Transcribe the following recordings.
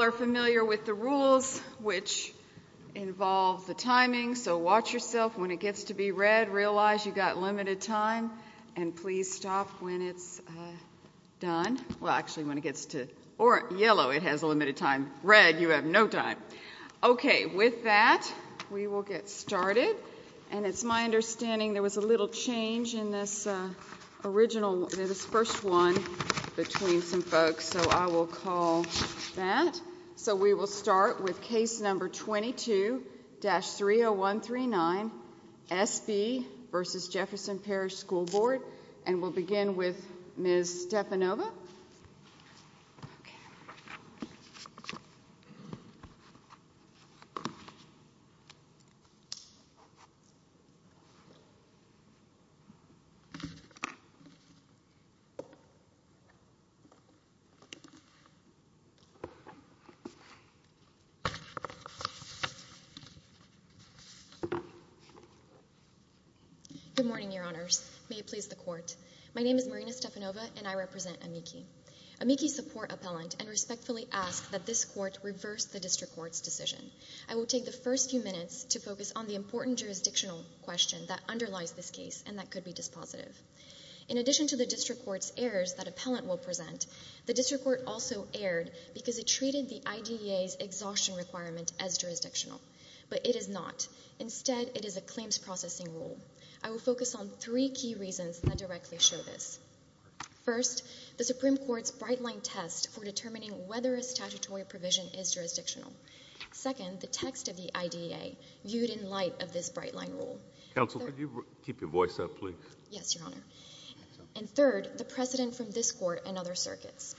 are familiar with the rules which involve the timing, so watch yourself when it gets to be red, realize you've got limited time, and please stop when it's done. Well, actually when it gets to yellow it has limited time, red you have no time. Okay, with that we will get started, and it's my understanding there was a little change in this original, this first one between some folks, so I will call that. So we will start with case number 22-30139, SB v. Jefferson Parish School Board, and we'll begin with Ms. Stepanova. Good morning, Your Honors. May it please the Court. My name is Marina Stepanova, and I represent AMICI. AMICI support appellant and respectfully ask that this Court reverse the District Court's decision. I will take the first few minutes to focus on the important jurisdictional question that underlies this case, and that could be dispositive. In addition to the District Court's errors that appellant will present, the District Court also erred because it treated the IDEA's exhaustion requirement as jurisdictional, but it is not. Instead, it is a claims processing rule. I will focus on three key reasons that directly show this. First, the Supreme Court's bright-line test for determining whether a statutory provision is jurisdictional. Second, the text of the IDEA viewed in light of this bright-line rule. Counsel, could you keep your voice up, please? Yes, Your Honor. And third, the precedent from this Court and other circuits.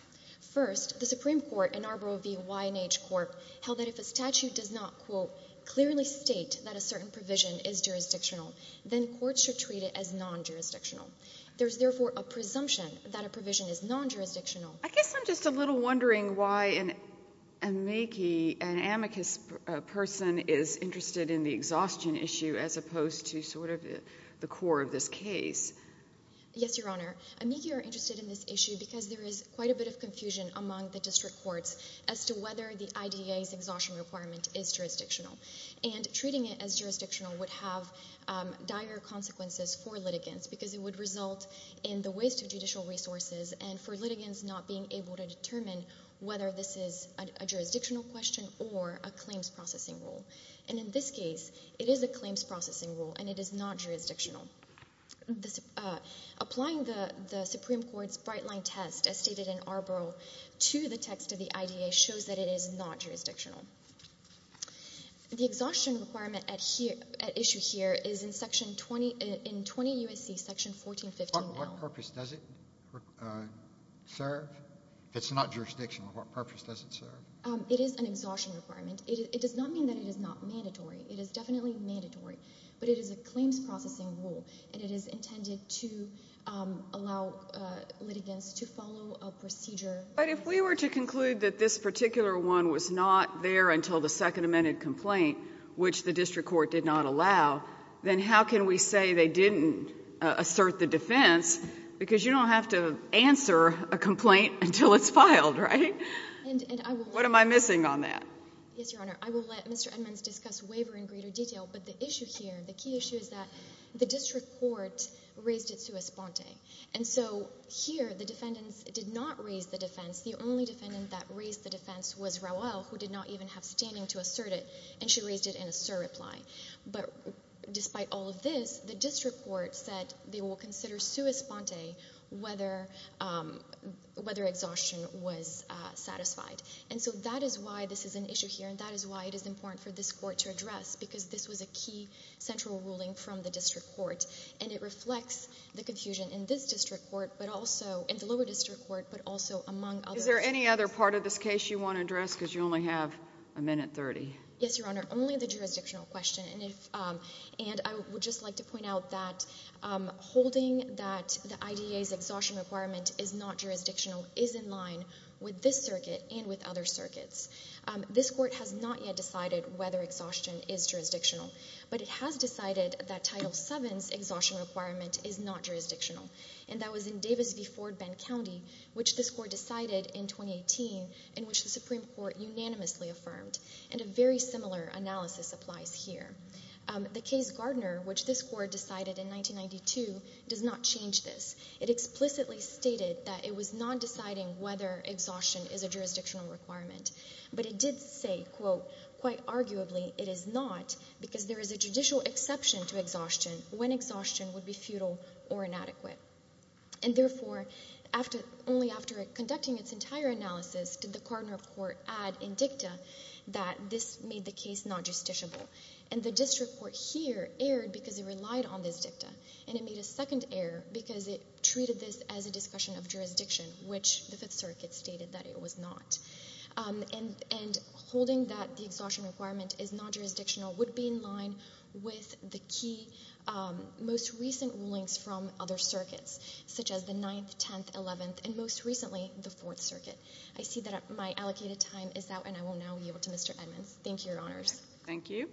First, the Supreme Court in Arboro v. Y&H Court held that if a statute does not, quote, clearly state that a certain provision is jurisdictional, then courts should treat it as non-jurisdictional. There is therefore a presumption that a provision is non-jurisdictional. I guess I'm just a little wondering why an amici, an amicus person, is interested in the exhaustion issue as opposed to sort of the core of this case. Yes, Your Honor. Amici are interested in this issue because there is quite a bit of confusion among the District Courts as to whether the IDEA's exhaustion requirement is jurisdictional. And treating it as jurisdictional would have dire consequences for litigants because it would result in the waste of judicial resources and for litigants not being able to determine whether this is a jurisdictional question or a claims processing rule. And in this case, it is a claims processing rule, and it is not jurisdictional. Applying the Supreme Court's bright-line test, as stated in Arboro, to the text of the IDEA shows that it is not jurisdictional. The exhaustion requirement at issue here is in Section 20, in 20 U.S.C., Section 1415. What purpose does it serve? If it's not jurisdictional, what purpose does it serve? It is an exhaustion requirement. It does not mean that it is not mandatory. It is definitely mandatory. But it is a claims processing rule, and it is intended to allow litigants to follow a procedure. But if we were to conclude that this particular one was not there until the second amended complaint, which the district court did not allow, then how can we say they didn't assert the defense? Because you don't have to answer a complaint until it's filed, right? What am I missing on that? Yes, Your Honor. I will let Mr. Edmonds discuss waiver in greater detail, but the issue here, the key issue is that the district court raised it sua sponte. And so here, the defendants did not raise the defense. The only defendant that raised the defense was Raul, who did not even have standing to assert it, and she raised it in a sur reply. But despite all of this, the district court said they will consider sua sponte whether exhaustion was satisfied. And so that is why this is an issue here, and that is why it is important for this court to address, because this was a key central ruling from the district court. And it reflects the confusion in this district court, but also in the lower district court, but also among others. Is there any other part of this case you want to address, because you only have a minute 30? Yes, Your Honor. Only the jurisdictional question, and I would just like to point out that holding that the IDA's exhaustion requirement is not jurisdictional is in line with this circuit and with other circuits. This court has not yet decided whether exhaustion is jurisdictional, but it has decided that Title VII's exhaustion requirement is not jurisdictional, and that was in Davis v. Ford Bend County, which this court decided in 2018, in which the Supreme Court unanimously affirmed, and a very similar analysis applies here. The case Gardner, which this court decided in 1992, does not change this. It explicitly stated that it was not deciding whether exhaustion is a jurisdictional requirement, but it did say, quote, quite arguably, it is not, because there is a judicial exception to exhaustion when exhaustion would be futile or inadequate. And therefore, only after conducting its entire analysis did the Gardner court add in dicta that this made the case not justiciable, and the district court here erred because it relied on this dicta, and it made a second error because it treated this as a discussion of jurisdiction, which the Fifth Circuit stated that it was not. And holding that the exhaustion requirement is not jurisdictional would be in line with the key most recent rulings from other circuits, such as the Ninth, Tenth, Eleventh, and most recently, the Fourth Circuit. I see that my allocated time is out, and I will now yield to Mr. Edmonds. Thank you, Your Honors. Thank you.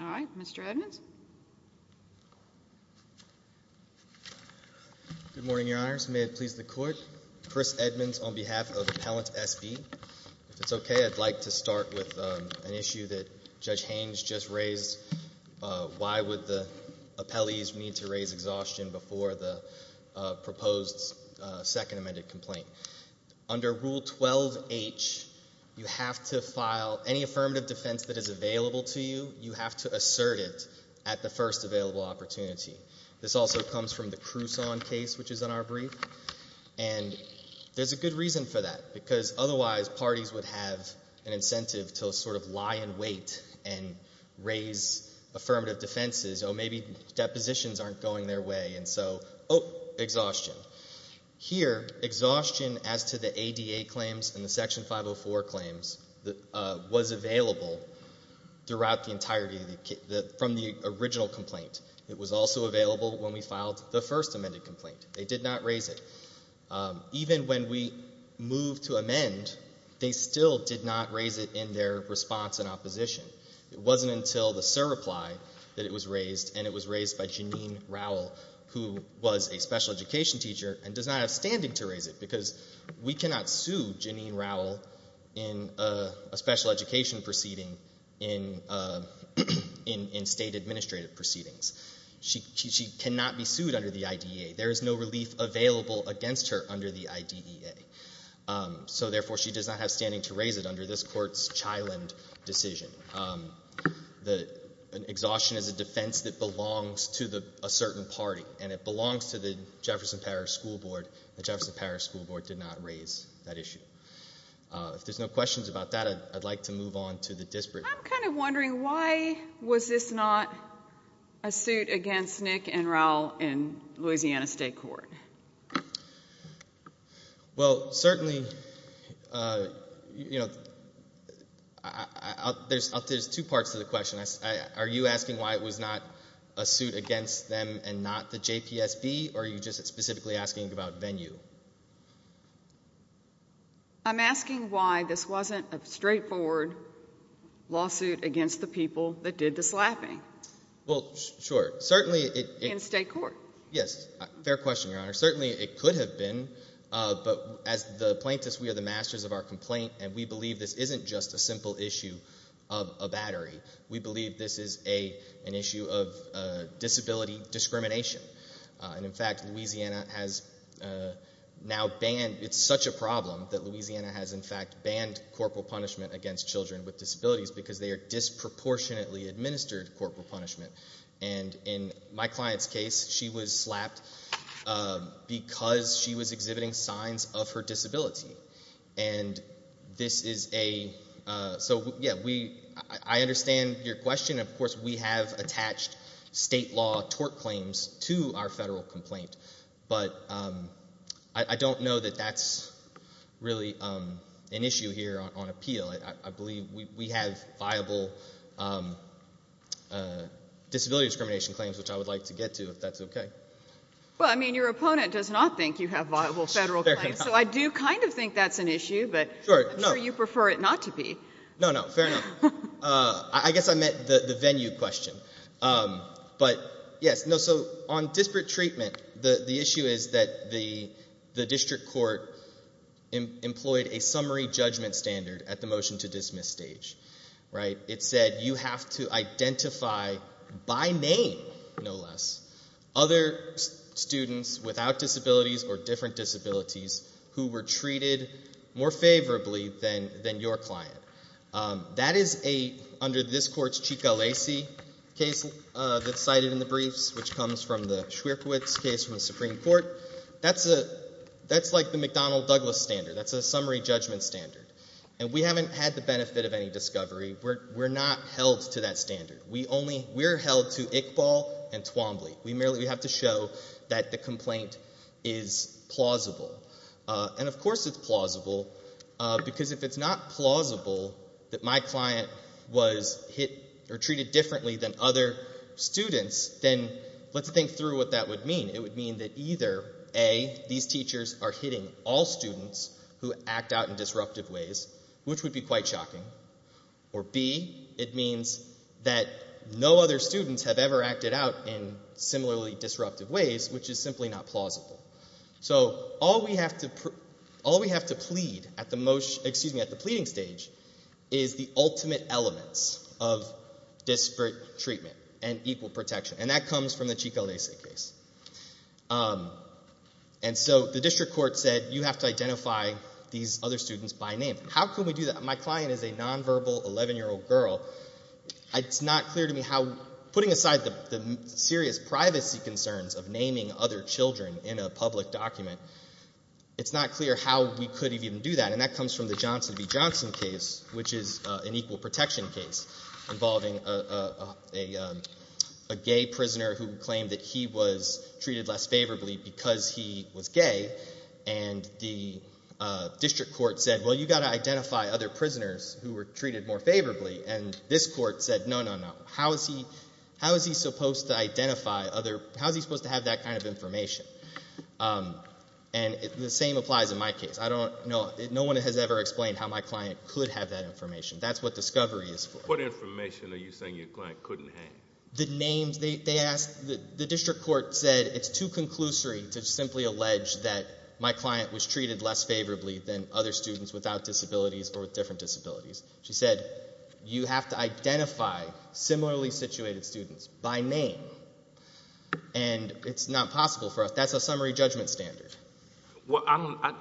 All right. Mr. Edmonds? Good morning, Your Honors. May it please the Court. Chris Edmonds on behalf of Appellant S.B. If it's okay, I'd like to start with an issue that Judge Haynes just raised, why would the appellees need to raise exhaustion before the proposed second amended complaint. Under Rule 12H, you have to file any affirmative defense that is available to you, you have to assert it at the first available opportunity. This also comes from the Cruson case, which is in our brief, and there's a good reason for that, because otherwise, parties would have an incentive to sort of lie in wait and raise affirmative defenses, or maybe depositions aren't going their way, and so, oh, exhaustion. Here, exhaustion as to the ADA claims and from the original complaint. It was also available when we filed the first amended complaint. They did not raise it. Even when we moved to amend, they still did not raise it in their response and opposition. It wasn't until the SIR reply that it was raised, and it was raised by Janine Rowell, who was a special education teacher, and does not have standing to raise it, because we cannot sue Janine Rowell in a special education proceeding in state administrative proceedings. She cannot be sued under the IDEA. There is no relief available against her under the IDEA. So, therefore, she does not have standing to raise it under this court's Chiland decision. Exhaustion is a defense that belongs to a certain party, and it belongs to the Jefferson Parish School Board. The Jefferson Parish School Board did not raise that issue. If there's no questions about that, I'd like to move on to the disparate. I'm kind of wondering why was this not a suit against Nick and Rowell in Louisiana State Court? Well, certainly, you know, there's two parts to the question. Are you asking why it was not a suit against them and not the JPSB, or are you just specifically asking about venue? I'm asking why this wasn't a straightforward lawsuit against the people that did the slapping. Well, sure. In state court. Yes. Fair question, Your Honor. Certainly, it could have been, but as the plaintiffs, we are the masters of our complaint, and we believe this isn't just a simple issue of a battery. We believe this is an issue of disability discrimination. And, in fact, Louisiana has now banned, it's such a problem that Louisiana has, in fact, banned corporal punishment against children with disabilities because they are disproportionately administered corporal punishment. And in my client's case, she was slapped because she was exhibiting signs of her disability. And this is a, so, yeah, we, I understand your question. Of course, we have attached state law tort claims to our federal complaint, but I don't know that that's really an issue here on appeal. I believe we have viable disability discrimination claims, which I would like to get to, if that's okay. Well, I mean, your opponent does not think you have viable federal claims, so I do kind of think that's an issue, but I'm sure you prefer it not to be. No, no, fair enough. I guess I meant the venue question. But, yes, no, so, on disparate treatment, the issue is that the district court employed a summary judgment standard at the motion to dismiss stage, right? It said you have to identify by name, no less, other students without disabilities or different disabilities who were treated more favorably than your client. That is a, under this court's Chico Lacey case that's cited in the briefs, which comes from the Schwierkiewicz case from the Supreme Court. That's a, that's like the McDonnell Douglas standard. That's a summary judgment standard. And we haven't had the benefit of any discovery. We're not held to that standard. We only, we're held to Iqbal and Twombly. We merely, we have to show that the complaint is plausible. And, of course, it's plausible because if it's not plausible that my client was hit or treated differently than other students, then let's think through what that would mean. It would mean that either A, these teachers are hitting all students who act out in disruptive ways, which would be quite shocking, or B, it means that no other students have ever acted out in similarly disruptive ways. So what we have to plead at the most, excuse me, at the pleading stage is the ultimate elements of disparate treatment and equal protection. And that comes from the Chico Lacey case. And so the district court said you have to identify these other students by name. How can we do that? My client is a nonverbal 11-year-old girl. It's not clear to me how, putting aside the serious privacy concerns of naming other children in a public document, it's not clear how we could even do that. And that comes from the Johnson v. Johnson case, which is an equal protection case involving a gay prisoner who claimed that he was treated less favorably because he was gay. And the district court said, well, you've got to identify other prisoners who were treated more favorably. And this court said, no, no, no. How is he supposed to identify other, how is he supposed to have that kind of information? And the same applies in my case. I don't know, no one has ever explained how my client could have that information. That's what discovery is for. What information are you saying your client couldn't have? The names. They asked, the district court said it's too conclusory to simply allege that my client was treated less favorably than other students without disabilities or with different disabilities. She said you have to identify similarly situated students by name. And it's not possible for us. That's a summary judgment standard. Well, I don't, I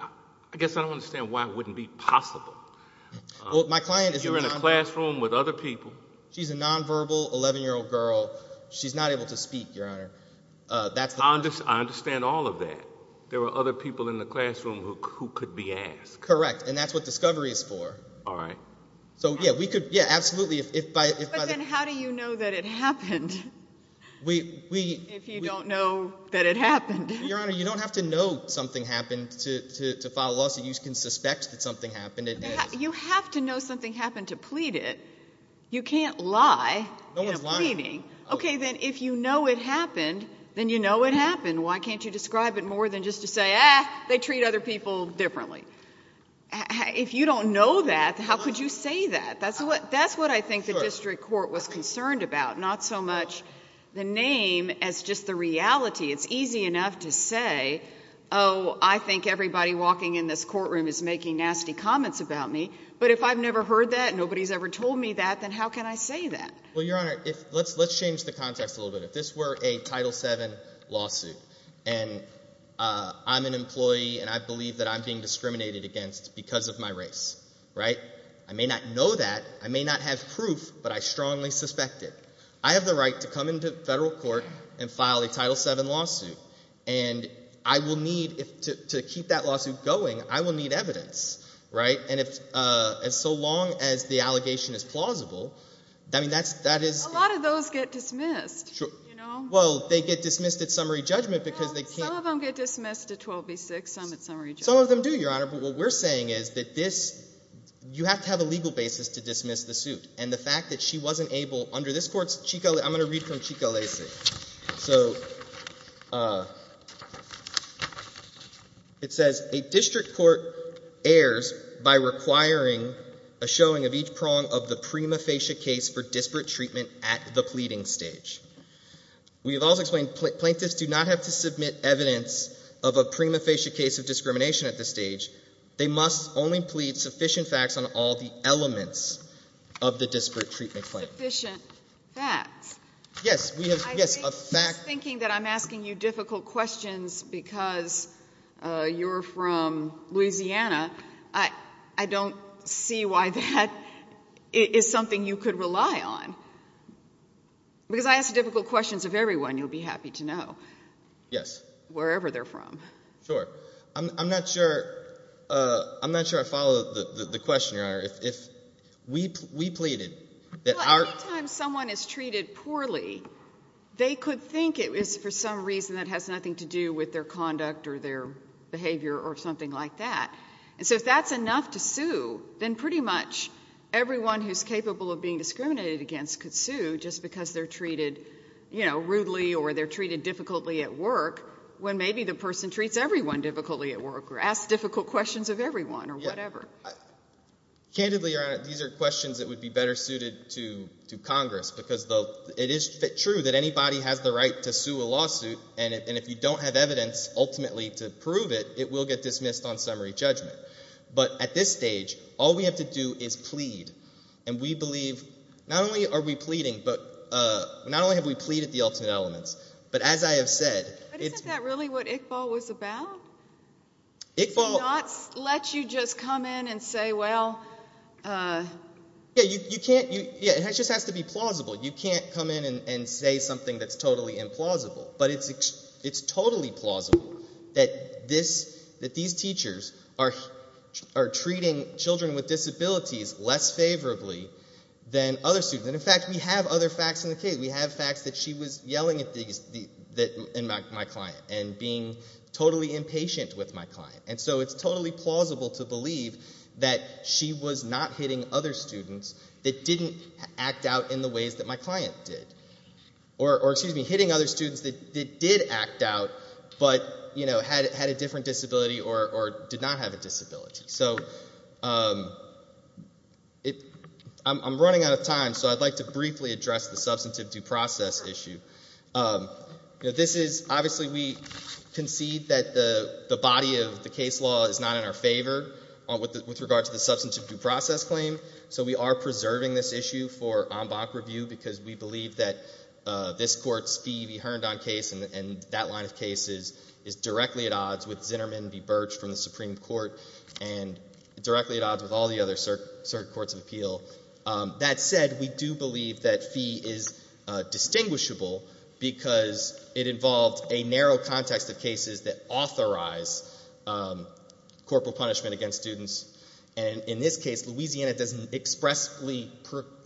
guess I don't understand why it wouldn't be possible. Well, my client is... If you're in a classroom with other people... She's a nonverbal 11-year-old girl. She's not able to speak, Your Honor. That's the... I understand all of that. There were other people in the classroom who could be asked. Correct. And that's what discovery is for. All right. So, yeah, we could, yeah, absolutely, if by... If you don't know that it happened. Your Honor, you don't have to know something happened to file a lawsuit. You can suspect that something happened. You have to know something happened to plead it. You can't lie in a pleading. No one's lying. Okay, then, if you know it happened, then you know it happened. Why can't you describe it more than just to say, ah, they treat other people differently? If you don't know that, how could you say that? That's what I think the district court was concerned about, not so much the name as just the reality. It's easy enough to say, oh, I think everybody walking in this courtroom is making nasty comments about me. But if I've never heard that, nobody's ever told me that, then how can I say that? Well, Your Honor, let's change the context a little bit. If this were a Title VII lawsuit and I'm an employee and I believe that I'm being discriminated against because of my race, right? I may not know that. I may not have proof, but I strongly suspect it. I have the right to come into federal court and file a Title VII lawsuit. And I will need, to keep that lawsuit going, I will need evidence, right? And so long as the allegation is plausible, I mean, that is— A lot of those get dismissed. Well, they get dismissed at summary judgment because they can't— Some of them get dismissed at 12 v. 6, some at summary judgment. Some of them do, Your Honor. But what we're saying is that this—you have to have a legal basis to dismiss the suit. And the fact that she wasn't able, under this court's—I'm going to read from Chicalese. So it says, A district court errs by requiring a showing of each prong of the prima facie case for disparate treatment at the pleading stage. We have also explained plaintiffs do not have to submit evidence of a prima facie case of discrimination at this stage. They must only plead sufficient facts on all the elements of the disparate treatment claim. Sufficient facts. Yes, we have—yes, a fact— I'm thinking that I'm asking you difficult questions because you're from Louisiana. I don't see why that is something you could rely on. Because I ask difficult questions of everyone, you'll be happy to know. Yes. Wherever they're from. Sure. I'm not sure—I'm not sure I follow the question, Your Honor. If we pleaded that our— Well, any time someone is treated poorly, they could think it is for some reason that has nothing to do with their conduct or their behavior or something like that. And so if that's enough to sue, then pretty much everyone who's capable of being discriminated against could sue just because they're treated rudely or they're treated difficultly at work when maybe the person treats everyone difficultly at work or asks difficult questions of everyone or whatever. Candidly, Your Honor, these are questions that would be better suited to Congress because it is true that anybody has the right to sue a lawsuit, and if you don't have evidence ultimately to prove it, it will get dismissed on summary judgment. But at this stage, all we have to do is plead. And we believe—not only are we pleading, but not only have we pleaded the alternate elements, but as I have said— But isn't that really what Iqbal was about? Iqbal— To not let you just come in and say, well— Yeah, you can't—it just has to be plausible. You can't come in and say something that's totally implausible. But it's totally plausible that these teachers are treating children with disabilities less favorably than other students. And, in fact, we have other facts in the case. We have facts that she was yelling at my client and being totally impatient with my client. And so it's totally plausible to believe that she was not hitting other students that didn't act out in the ways that my client did. Or, excuse me, hitting other students that did act out but had a different disability or did not have a disability. So I'm running out of time, so I'd like to briefly address the substantive due process issue. Obviously, we concede that the body of the case law is not in our favor with regard to the substantive due process claim. So we are preserving this issue for en banc review because we believe that this Court's fee be hearned on case and that line of cases is directly at odds with Zinnerman v. Birch from the Supreme Court and directly at odds with all the other circuit courts of appeal. That said, we do believe that fee is distinguishable because it involved a narrow context of cases that authorize corporal punishment against students. And in this case, Louisiana expressly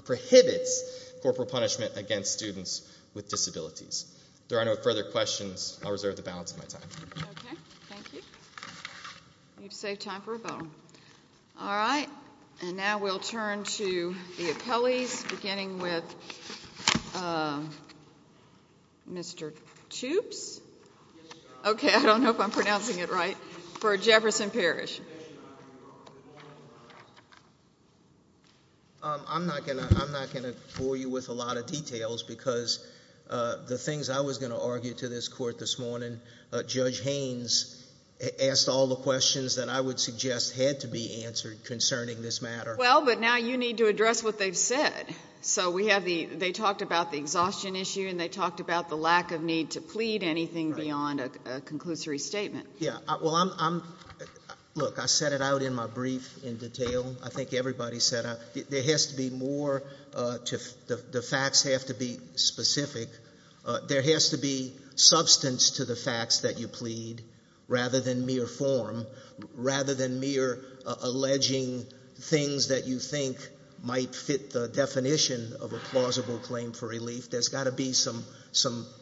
prohibits corporal punishment against students with disabilities. If there are no further questions, I'll reserve the balance of my time. Okay, thank you. You've saved time for a vote. All right, and now we'll turn to the appellees, beginning with Mr. Tubbs. Okay, I don't know if I'm pronouncing it right. For Jefferson Parish. I'm not going to bore you with a lot of details because the things I was going to argue to this Court this morning, Judge Haynes asked all the questions that I would suggest had to be answered concerning this matter. Well, but now you need to address what they've said. So they talked about the exhaustion issue and they talked about the lack of need to plead anything beyond a conclusory statement. Yeah, well, look, I set it out in my brief in detail. I think everybody set out. There has to be more. The facts have to be specific. There has to be substance to the facts that you plead rather than mere form, rather than mere alleging things that you think might fit the definition of a plausible claim for relief. There's got to be some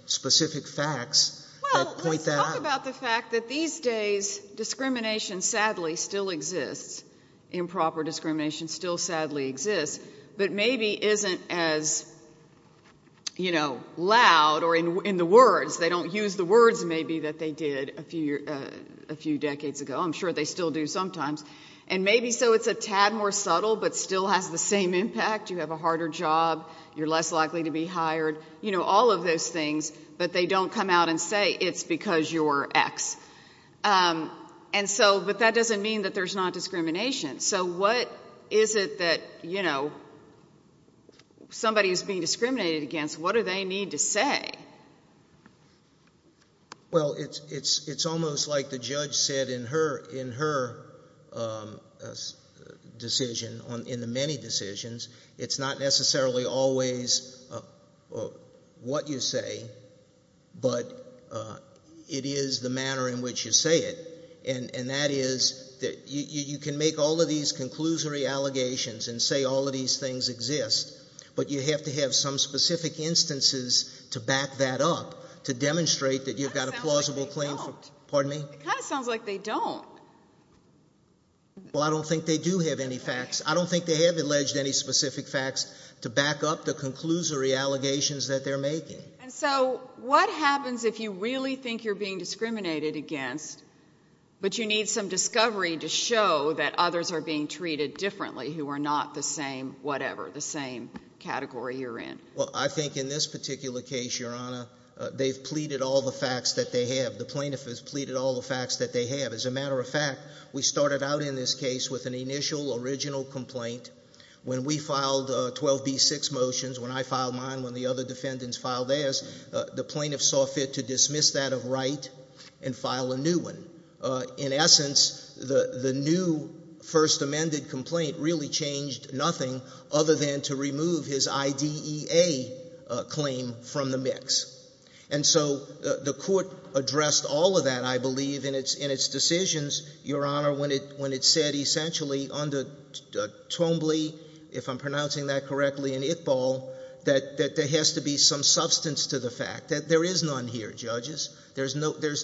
specific facts that point that out. Well, let's talk about the fact that these days discrimination sadly still exists. Improper discrimination still sadly exists, but maybe isn't as, you know, loud or in the words. They don't use the words maybe that they did a few decades ago. I'm sure they still do sometimes. And maybe so it's a tad more subtle but still has the same impact. You have a harder job. You're less likely to be hired. You know, all of those things. But they don't come out and say it's because you're X. But that doesn't mean that there's not discrimination. So what is it that, you know, somebody who's being discriminated against, what do they need to say? Well, it's almost like the judge said in her decision, in the many decisions, it's not necessarily always what you say, but it is the manner in which you say it. And that is that you can make all of these conclusory allegations and say all of these things exist, but you have to have some specific instances to back that up, to demonstrate that you've got a plausible claim. It kind of sounds like they don't. Pardon me? It kind of sounds like they don't. Well, I don't think they do have any facts. I don't think they have alleged any specific facts to back up the conclusory allegations that they're making. And so what happens if you really think you're being discriminated against, but you need some discovery to show that others are being treated differently who are not the same whatever, the same category you're in? Well, I think in this particular case, Your Honor, they've pleaded all the facts that they have. The plaintiff has pleaded all the facts that they have. As a matter of fact, we started out in this case with an initial original complaint. When we filed 12b-6 motions, when I filed mine, when the other defendants filed theirs, the plaintiff saw fit to dismiss that of right and file a new one. In essence, the new first amended complaint really changed nothing other than to remove his IDEA claim from the mix. And so the court addressed all of that, I believe, in its decisions, Your Honor, when it said essentially under Twombly, if I'm pronouncing that correctly, and Iqbal, that there has to be some substance to the fact that there is none here, judges. There's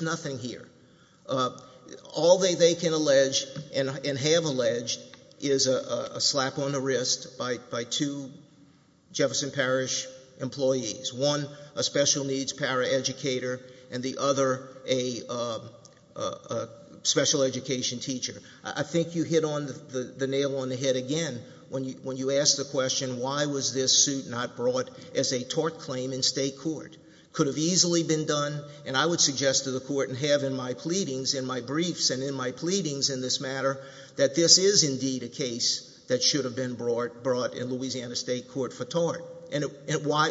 nothing here. All they can allege and have alleged is a slap on the wrist by two Jefferson Parish employees, one a special needs paraeducator and the other a special education teacher. I think you hit the nail on the head again when you asked the question, why was this suit not brought as a tort claim in state court? It could have easily been done, and I would suggest to the court and have in my pleadings, in my briefs and in my pleadings in this matter, that this is indeed a case that should have been brought in Louisiana State Court for tort.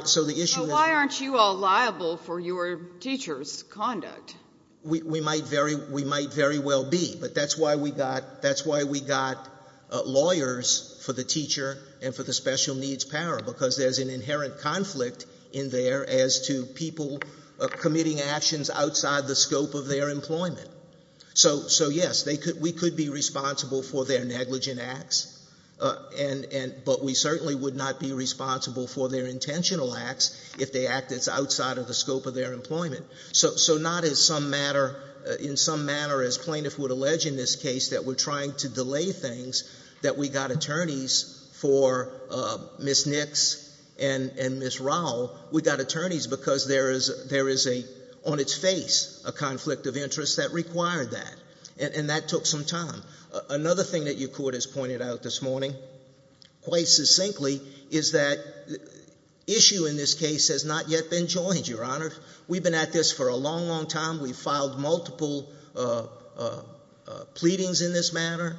So why aren't you all liable for your teacher's conduct? We might very well be, but that's why we got lawyers for the teacher and for the special needs para, because there's an inherent conflict in there as to people committing actions outside the scope of their employment. So, yes, we could be responsible for their negligent acts, but we certainly would not be responsible for their intentional acts if they acted outside of the scope of their employment. So not in some manner, as plaintiff would allege in this case, that we're trying to delay things, that we got attorneys for Ms. Nix and Ms. Rowell. We got attorneys because there is, on its face, a conflict of interest that required that, and that took some time. Another thing that your court has pointed out this morning, quite succinctly, is that issue in this case has not yet been joined, Your Honor. We've been at this for a long, long time. We've filed multiple pleadings in this matter.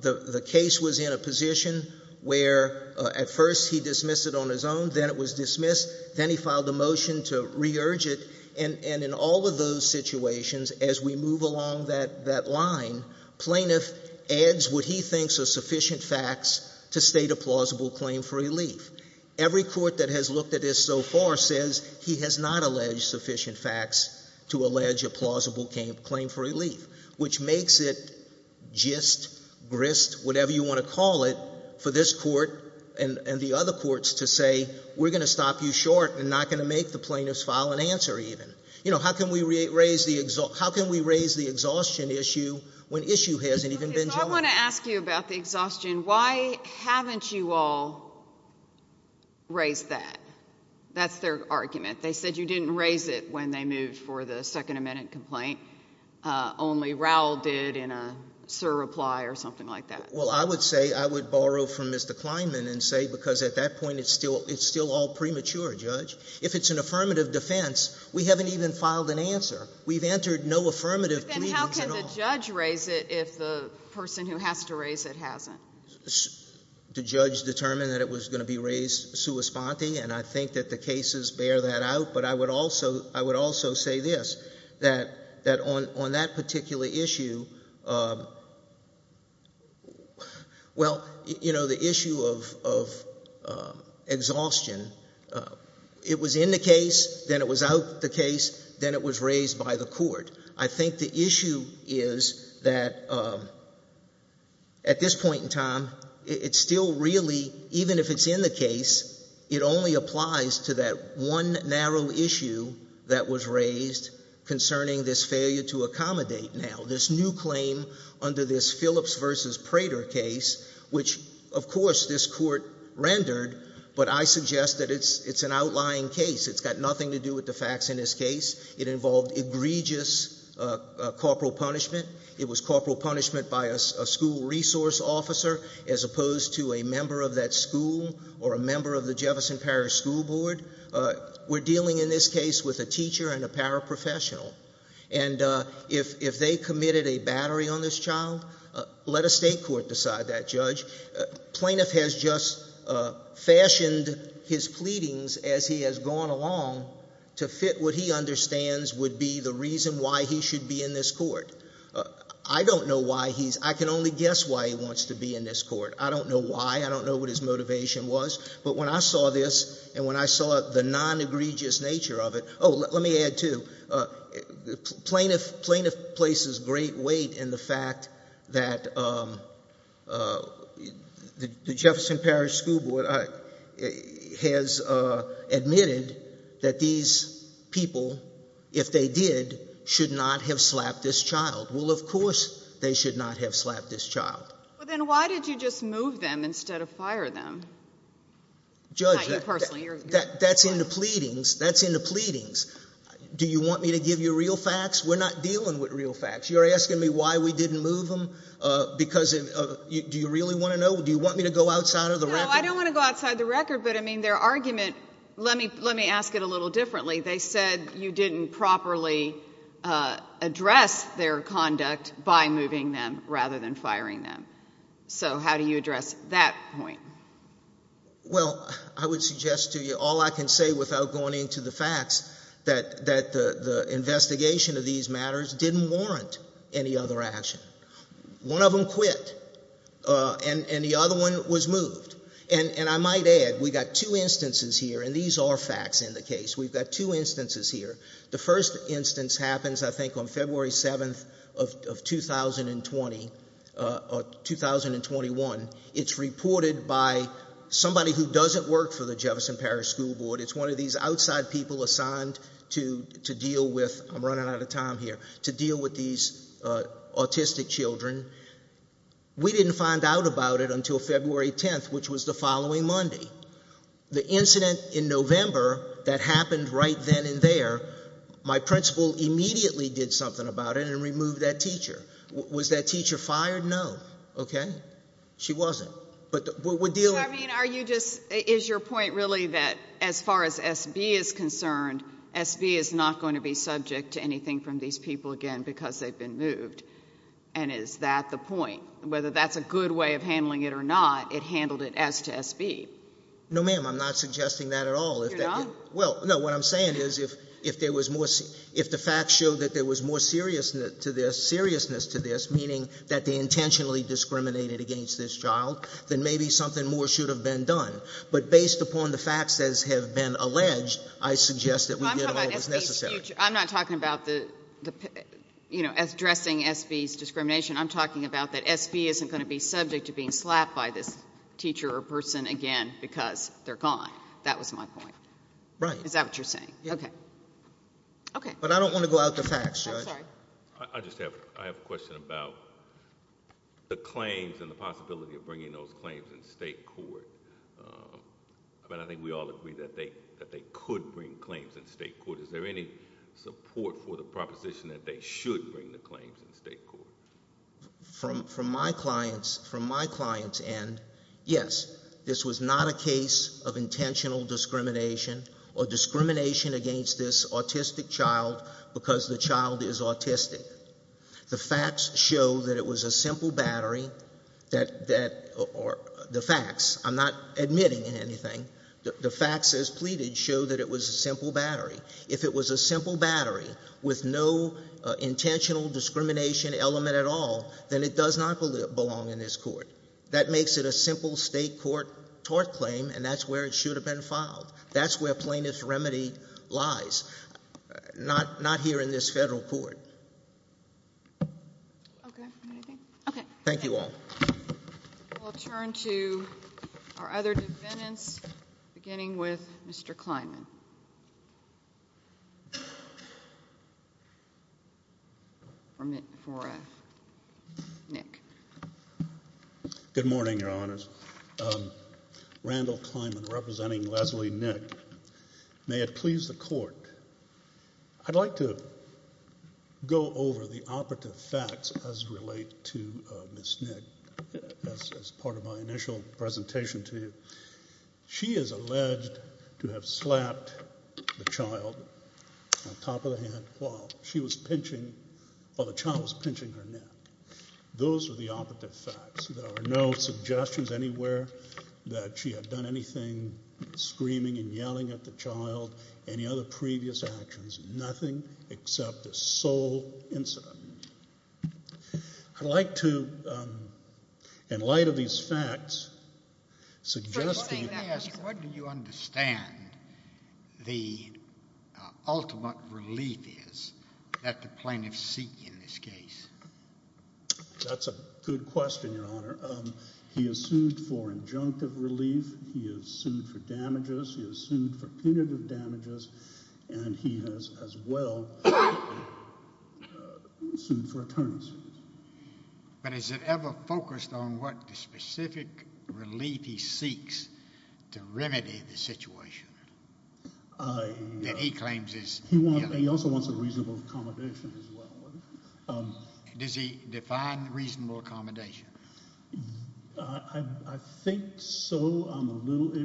The case was in a position where, at first, he dismissed it on his own. Then it was dismissed. Then he filed a motion to re-urge it. And in all of those situations, as we move along that line, plaintiff adds what he thinks are sufficient facts to state a plausible claim for relief. Every court that has looked at this so far says he has not alleged sufficient facts to allege a plausible claim for relief, which makes it gist, grist, whatever you want to call it, for this court and the other courts to say, we're going to stop you short and not going to make the plaintiff's file an answer even. You know, how can we raise the exhaustion issue when issue hasn't even been joined? Okay, so I want to ask you about the exhaustion. Why haven't you all raised that? That's their argument. They said you didn't raise it when they moved for the Second Amendment complaint. Only Raul did in a surreply or something like that. Well, I would say I would borrow from Mr. Kleinman and say, because at that point it's still all premature, Judge. If it's an affirmative defense, we haven't even filed an answer. We've entered no affirmative pleadings at all. But then how can the judge raise it if the person who has to raise it hasn't? The judge determined that it was going to be raised sua sponte, and I think that the cases bear that out. But I would also say this, that on that particular issue, well, you know, the issue of exhaustion, it was in the case, then it was out the case, then it was raised by the court. I think the issue is that at this point in time, it's still really, even if it's in the case, it only applies to that one narrow issue that was raised concerning this failure to accommodate now, this new claim under this Phillips v. Prater case, which, of course, this court rendered, but I suggest that it's an outlying case. It's got nothing to do with the facts in this case. It involved egregious corporal punishment. It was corporal punishment by a school resource officer as opposed to a member of that school or a member of the Jefferson Parish School Board. We're dealing in this case with a teacher and a paraprofessional. And if they committed a battery on this child, let a state court decide that, Judge. Plaintiff has just fashioned his pleadings as he has gone along to fit what he understands would be the reason why he should be in this court. I don't know why he's, I can only guess why he wants to be in this court. I don't know why. I don't know what his motivation was. But when I saw this and when I saw the non-egregious nature of it, oh, let me add, too, plaintiff places great weight in the fact that the Jefferson Parish School Board has admitted that these people, if they did, should not have slapped this child. Well, of course they should not have slapped this child. Then why did you just move them instead of fire them? Judge, that's in the pleadings. That's in the pleadings. Do you want me to give you real facts? We're not dealing with real facts. You're asking me why we didn't move them because of, do you really want to know? Do you want me to go outside of the record? No, I don't want to go outside the record. But, I mean, their argument, let me ask it a little differently. They said you didn't properly address their conduct by moving them rather than firing them. So how do you address that point? Well, I would suggest to you, all I can say without going into the facts, that the investigation of these matters didn't warrant any other action. One of them quit, and the other one was moved. And I might add, we've got two instances here, and these are facts in the case. We've got two instances here. The first instance happens, I think, on February 7th of 2021. It's reported by somebody who doesn't work for the Jefferson Parish School Board. It's one of these outside people assigned to deal with, I'm running out of time here, to deal with these autistic children. We didn't find out about it until February 10th, which was the following Monday. The incident in November that happened right then and there, was that teacher fired? No. Okay. She wasn't. So, I mean, are you just, is your point really that as far as SB is concerned, SB is not going to be subject to anything from these people again because they've been moved? And is that the point? Whether that's a good way of handling it or not, it handled it as to SB. No, ma'am, I'm not suggesting that at all. You're not? Well, no, what I'm saying is if there was more, if the facts show that there was more seriousness to this, meaning that they intentionally discriminated against this child, then maybe something more should have been done. But based upon the facts as have been alleged, I suggest that we get all that's necessary. I'm not talking about the, you know, addressing SB's discrimination. I'm talking about that SB isn't going to be subject to being slapped by this teacher or person again because they're gone. That was my point. Right. Is that what you're saying? Yeah. Okay. Okay. But I don't want to go out the facts, Judge. I'm sorry. I just have a question about the claims and the possibility of bringing those claims in state court. I mean, I think we all agree that they could bring claims in state court. Is there any support for the proposition that they should bring the claims in state court? From my client's end, yes. This was not a case of intentional discrimination or discrimination against this autistic child because the child is autistic. The facts show that it was a simple battery. The facts. I'm not admitting anything. The facts as pleaded show that it was a simple battery. If it was a simple battery with no intentional discrimination element at all, then it does not belong in this court. That makes it a simple state court tort claim, and that's where it should have been filed. That's where plaintiff's remedy lies, not here in this federal court. Okay. Anything? Okay. Thank you all. We'll turn to our other defendants, beginning with Mr. Kleinman. 4F, Nick. Good morning, Your Honors. Randall Kleinman, representing Leslie Nick. May it please the Court, I'd like to go over the operative facts as related to Ms. Nick, as part of my initial presentation to you. She is alleged to have slapped the child on top of the head while she was pinching, while the child was pinching her neck. Those are the operative facts. There are no suggestions anywhere that she had done anything, screaming and yelling at the child, any other previous actions. Nothing except a sole incident. I'd like to, in light of these facts, suggest that you Let me ask, what do you understand the ultimate relief is that the plaintiffs seek in this case? That's a good question, Your Honor. He is sued for injunctive relief. He is sued for damages. He is sued for punitive damages. And he is, as well, sued for attorneys. But is it ever focused on what specific relief he seeks to remedy the situation that he claims is He also wants a reasonable accommodation as well. Does he define reasonable accommodation? I think so.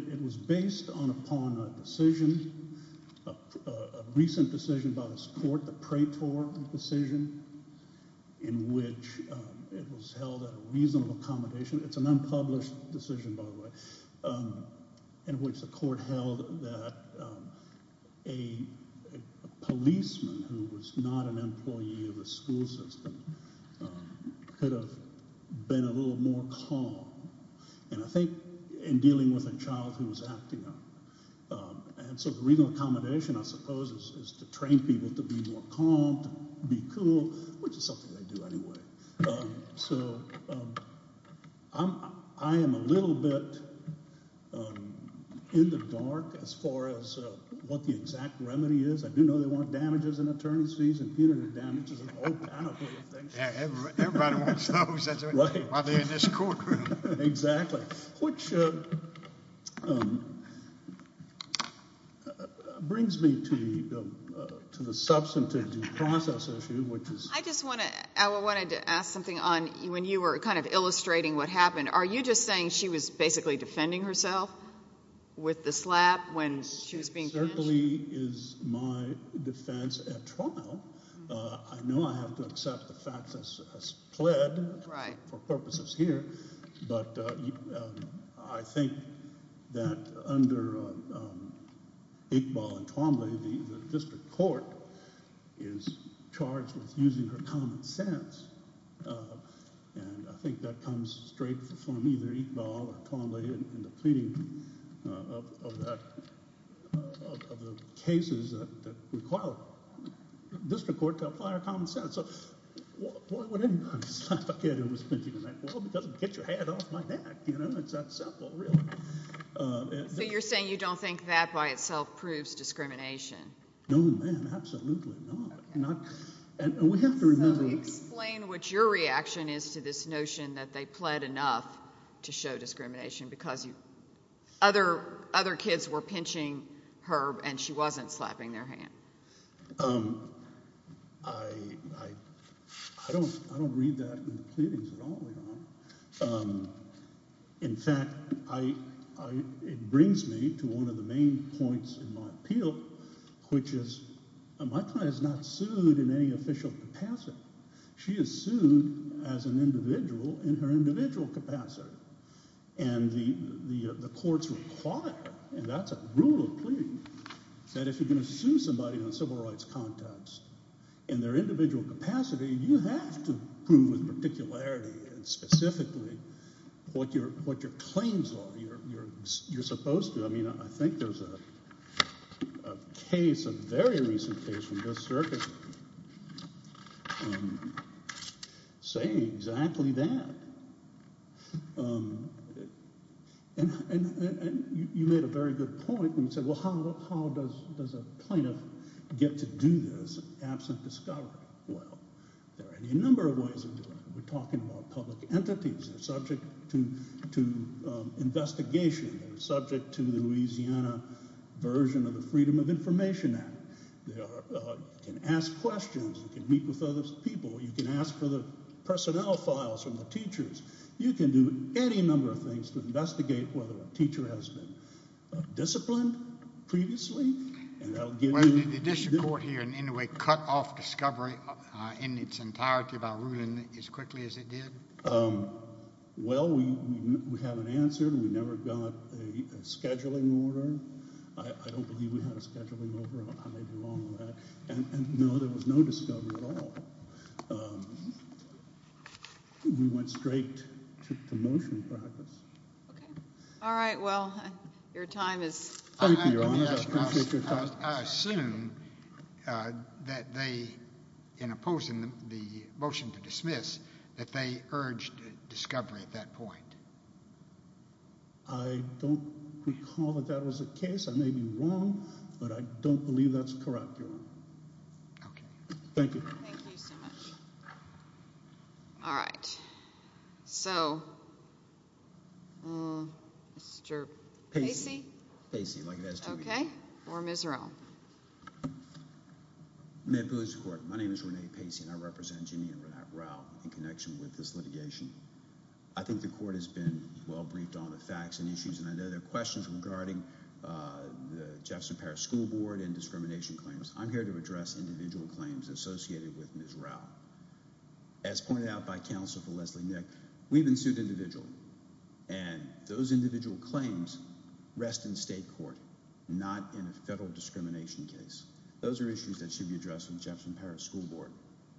It was based upon a decision, a recent decision by this court, the Praetor decision, in which it was held at a reasonable accommodation. It's an unpublished decision, by the way, in which the court held that a policeman who was not an employee of the school system could have been a little more calm. And I think in dealing with a child who was acting up. And so the reasonable accommodation, I suppose, is to train people to be more calm, to be cool, which is something they do anyway. So I am a little bit in the dark as far as what the exact remedy is. I do know they want damages and attorneys and punitive damages and all kinds of things. Everybody wants those while they're in this courtroom. Exactly. Which brings me to the substantive due process issue, which is I just wanted to ask something on when you were kind of illustrating what happened. Are you just saying she was basically defending herself with the slap when she was being pinched? That actually is my defense at trial. I know I have to accept the fact that she has pled for purposes here. But I think that under Iqbal and Twombly, the district court is charged with using her common sense. And I think that comes straight from either Iqbal or Twombly in the pleading of the cases that require the district court to apply her common sense. Why would anybody slap a kid who was pinching her neck? Well, because it would get your head off my neck. It's that simple, really. So you're saying you don't think that by itself proves discrimination? No, ma'am, absolutely not. So explain what your reaction is to this notion that they pled enough to show discrimination because other kids were pinching her and she wasn't slapping their hand. I don't read that in the pleadings at all. In fact, it brings me to one of the main points in my appeal, which is my client is not sued in any official capacity. She is sued as an individual in her individual capacity. And the courts require, and that's a rule of pleading, that if you're going to sue somebody in a civil rights context in their individual capacity, you have to prove with particularity and specifically what your claims are. You're supposed to. I mean, I think there's a case, a very recent case from this circuit, saying exactly that. And you made a very good point when you said, well, how does a plaintiff get to do this absent discovery? Well, there are a number of ways of doing it. We're talking about public entities. They're subject to investigation. They're subject to the Louisiana version of the Freedom of Information Act. You can ask questions. You can meet with other people. You can ask for the personnel files from the teachers. You can do any number of things to investigate whether a teacher has been disciplined previously. Well, did the district court here in any way cut off discovery in its entirety by ruling as quickly as it did? Well, we haven't answered. We never got a scheduling order. I don't believe we had a scheduling order. I may be wrong on that. And, no, there was no discovery at all. We went straight to motion practice. Okay. All right. Well, your time is up. Thank you, Your Honor. I appreciate your time. I assume that they, in opposing the motion to dismiss, that they urged discovery at that point. I don't recall that that was the case. I may be wrong, but I don't believe that's correct, Your Honor. Okay. Thank you. Thank you so much. All right. So, Mr. Pacey? Pacey, like it has to be. Okay. Or Ms. Rauh. May it please the Court. My name is Rene Pacey, and I represent Jimmy and Rauh in connection with this litigation. I think the Court has been well briefed on the facts and issues, and I know there are questions regarding the Jefferson Parish School Board and discrimination claims. I'm here to address individual claims associated with Ms. Rauh. As pointed out by counsel for Leslie Nick, we've been sued individual, and those individual claims rest in state court, not in a federal discrimination case. Those are issues that should be addressed in the Jefferson Parish School Board.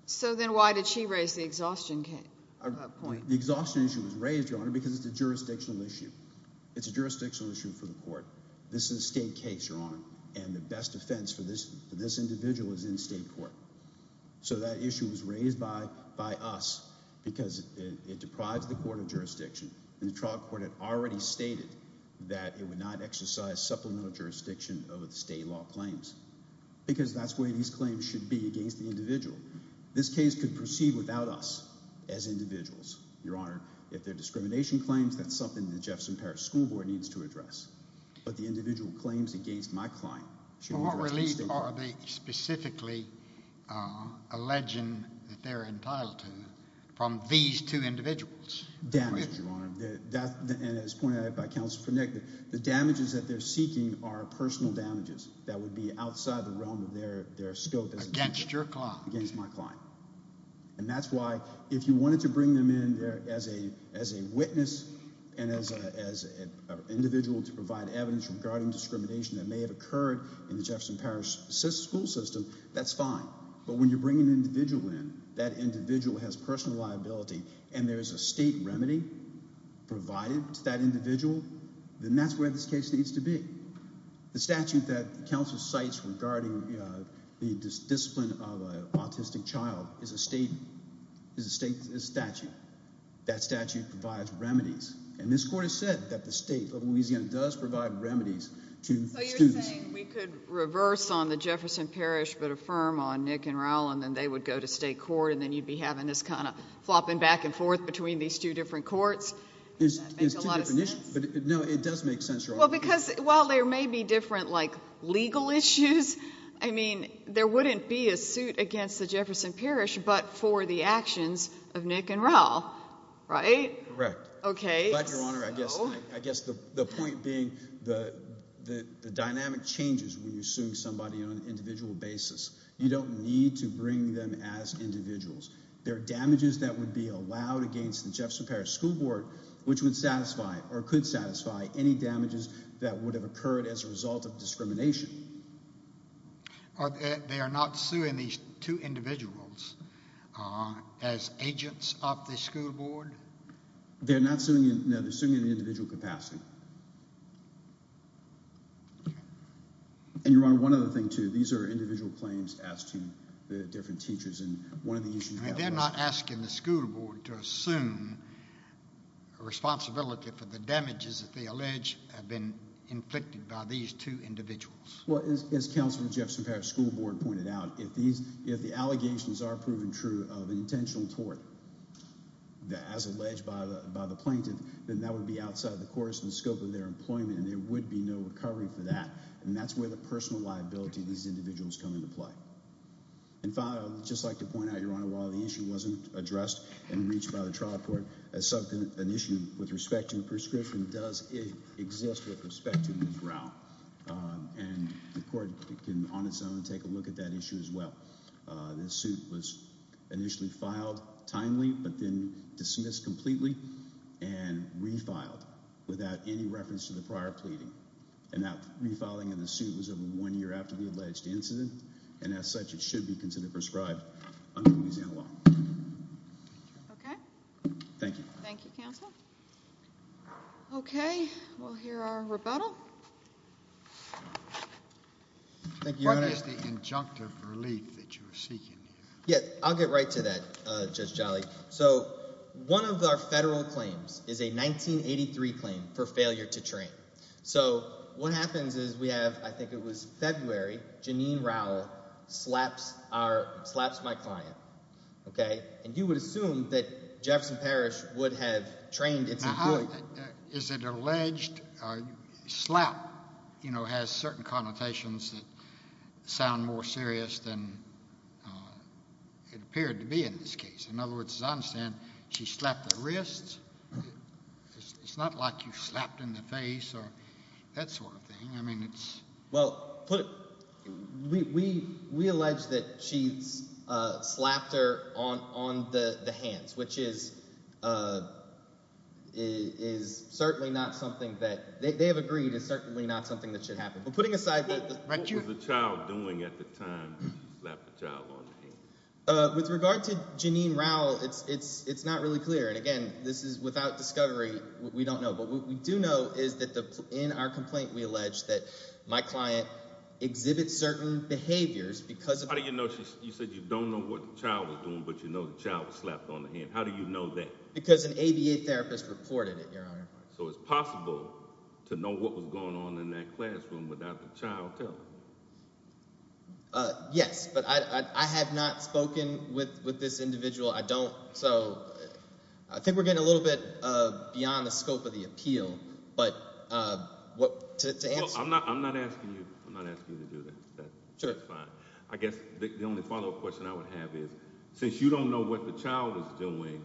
So then why did she raise the exhaustion point? The exhaustion issue was raised, Your Honor, because it's a jurisdictional issue. It's a jurisdictional issue for the Court. This is a state case, Your Honor, and the best defense for this individual is in state court. So that issue was raised by us because it deprives the court of jurisdiction, and the trial court had already stated that it would not exercise supplemental jurisdiction over the state law claims because that's the way these claims should be against the individual. This case could proceed without us as individuals, Your Honor. If there are discrimination claims, that's something the Jefferson Parish School Board needs to address. What relief are they specifically alleging that they're entitled to from these two individuals? Damage, Your Honor. And as pointed out by counsel for Nick, the damages that they're seeking are personal damages that would be outside the realm of their scope. Against your client. Against my client. And that's why if you wanted to bring them in there as a witness and as an individual to provide evidence regarding discrimination that may have occurred in the Jefferson Parish school system, that's fine. But when you bring an individual in, that individual has personal liability, and there's a state remedy provided to that individual, then that's where this case needs to be. The statute that counsel cites regarding the discipline of an autistic child is a state statute. That statute provides remedies, and this court has said that the state of Louisiana does provide remedies to students. So you're saying we could reverse on the Jefferson Parish but affirm on Nick and Raul, and then they would go to state court, and then you'd be having this kind of flopping back and forth between these two different courts? Does that make a lot of sense? It's two different issues. No, it does make sense, Your Honor. Well, because while there may be different, like, legal issues, I mean there wouldn't be a suit against the Jefferson Parish but for the actions of Nick and Raul, right? Correct. Okay. But, Your Honor, I guess the point being the dynamic changes when you're suing somebody on an individual basis. You don't need to bring them as individuals. There are damages that would be allowed against the Jefferson Parish School Board, which would satisfy or could satisfy any damages that would have occurred as a result of discrimination. They are not suing these two individuals as agents of the school board? They're not suing – no, they're suing in the individual capacity. Okay. And, Your Honor, one other thing too. These are individual claims as to the different teachers, and one of the issues – I mean they're not asking the school board to assume responsibility for the damages that they allege have been inflicted by these two individuals. Well, as Counselor Jefferson Parish School Board pointed out, if the allegations are proven true of intentional tort as alleged by the plaintiff, then that would be outside the courts and the scope of their employment, and there would be no recovery for that. And that's where the personal liability of these individuals come into play. And finally, I would just like to point out, Your Honor, while the issue wasn't addressed and reached by the trial court, an issue with respect to the proscription does exist with respect to Monroe. And the court can on its own take a look at that issue as well. This suit was initially filed timely but then dismissed completely and refiled without any reference to the prior pleading. And that refiling of the suit was over one year after the alleged incident. And as such, it should be considered prescribed under Louisiana law. Okay. Thank you. Thank you, Counselor. Okay, we'll hear our rebuttal. Thank you, Your Honor. What is the injunctive relief that you're seeking here? Yeah, I'll get right to that, Judge Jolly. So one of our federal claims is a 1983 claim for failure to train. So what happens is we have, I think it was February, Janine Rowell slaps my client, okay? And you would assume that Jefferson Parish would have trained its employee. Is it alleged slap, you know, has certain connotations that sound more serious than it appeared to be in this case? In other words, as I understand, she slapped the wrist. It's not like you slapped in the face or that sort of thing. I mean it's – Well, we allege that she slapped her on the hands, which is certainly not something that – they have agreed it's certainly not something that should happen. But putting aside – What was the child doing at the time that she slapped the child on the hand? With regard to Janine Rowell, it's not really clear. And again, this is without discovery. We don't know. But what we do know is that in our complaint we allege that my client exhibits certain behaviors because of – How do you know? You said you don't know what the child was doing, but you know the child was slapped on the hand. How do you know that? Because an ABA therapist reported it, Your Honor. So it's possible to know what was going on in that classroom without the child telling? Yes, but I have not spoken with this individual. I don't – so I think we're getting a little bit beyond the scope of the appeal. But to answer – I'm not asking you to do that. That's fine. I guess the only follow-up question I would have is since you don't know what the child is doing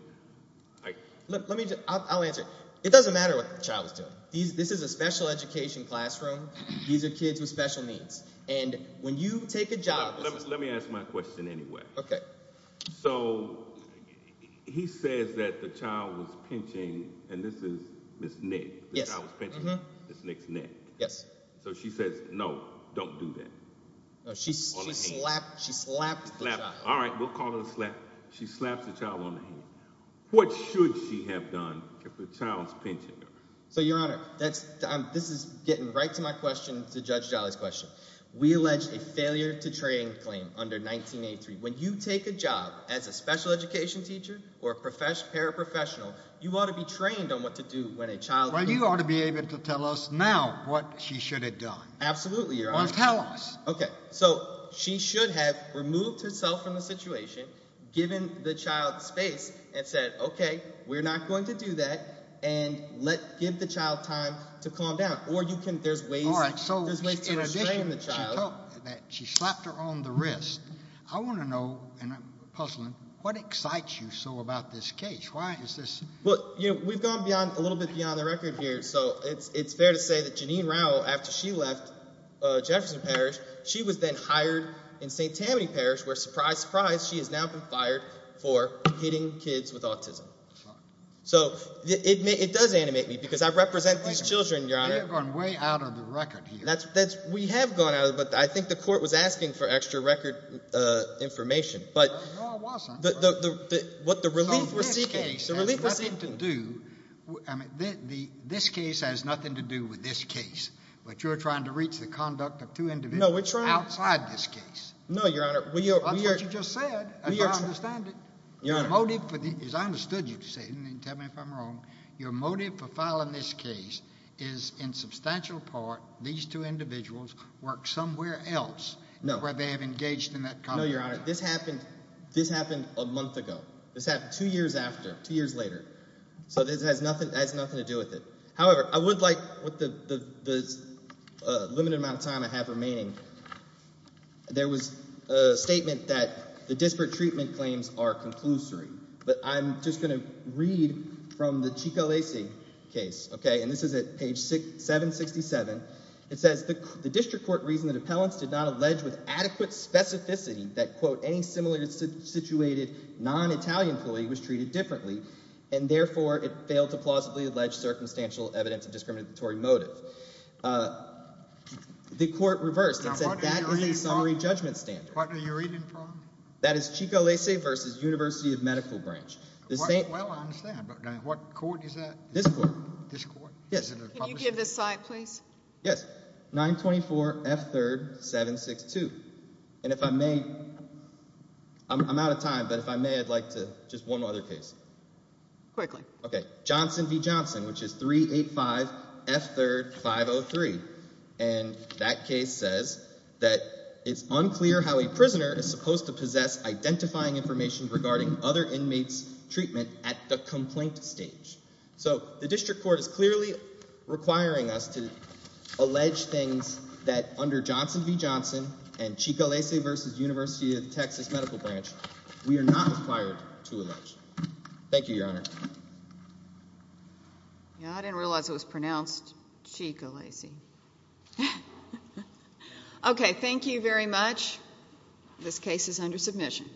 – Let me – I'll answer it. It doesn't matter what the child is doing. This is a special education classroom. These are kids with special needs. And when you take a job – Let me ask my question anyway. Okay. So he says that the child was pinching, and this is Ms. Nick. The child was pinching Ms. Nick's neck. Yes. So she says, no, don't do that. She slapped the child. All right, we'll call it a slap. She slaps the child on the hand. What should she have done if the child is pinching her? So, Your Honor, this is getting right to my question, to Judge Jolly's question. We allege a failure to train claim under 1983. When you take a job as a special education teacher or paraprofessional, you ought to be trained on what to do when a child – Well, you ought to be able to tell us now what she should have done. Absolutely, Your Honor. Well, tell us. Okay. So she should have removed herself from the situation, given the child space, and said, okay, we're not going to do that. And let – give the child time to calm down. Or you can – there's ways – All right. So, in addition, she slapped her on the wrist. I want to know, and I'm puzzling, what excites you so about this case? Why is this – Well, we've gone beyond – a little bit beyond the record here. So it's fair to say that Janine Rowell, after she left Jefferson Parish, she was then hired in St. Tammany Parish, where, surprise, surprise, she has now been fired for hitting kids with autism. So it does animate me because I represent these children, Your Honor. Wait a minute. We have gone way out of the record here. That's – we have gone out of – but I think the court was asking for extra record information. No, I wasn't. But the – what the relief we're seeking – This case has nothing to do with this case, but you're trying to reach the conduct of two individuals outside this case. No, we're trying – no, Your Honor. That's what you just said, and I understand it. Your motive for – as I understood you to say, and you can tell me if I'm wrong. Your motive for filing this case is in substantial part these two individuals work somewhere else where they have engaged in that conduct. No, Your Honor. This happened a month ago. This happened two years after, two years later. So this has nothing to do with it. However, I would like what the limited amount of time I have remaining. There was a statement that the disparate treatment claims are conclusory. But I'm just going to read from the Ciccolese case. Okay, and this is at page 767. It says the district court reasoned that appellants did not allege with adequate specificity that, quote, any similar situated non-Italian employee was treated differently, and therefore it failed to plausibly allege circumstantial evidence of discriminatory motive. The court reversed and said that is a summary judgment standard. What are you reading from? That is Ciccolese v. University of Medical Branch. Well, I understand, but what court is that? This court. This court? Yes. Can you give the site, please? Yes, 924 F. 3rd, 762. And if I may, I'm out of time, but if I may, I'd like to just one other case. Quickly. Okay, Johnson v. Johnson, which is 385 F. 3rd, 503. And that case says that it's unclear how a prisoner is supposed to possess identifying information regarding other inmates' treatment at the complaint stage. So the district court is clearly requiring us to allege things that under Johnson v. Johnson and Ciccolese v. University of Texas Medical Branch we are not required to allege. Thank you, Your Honor. I didn't realize it was pronounced Ciccolese. Okay, thank you very much. This case is under submission.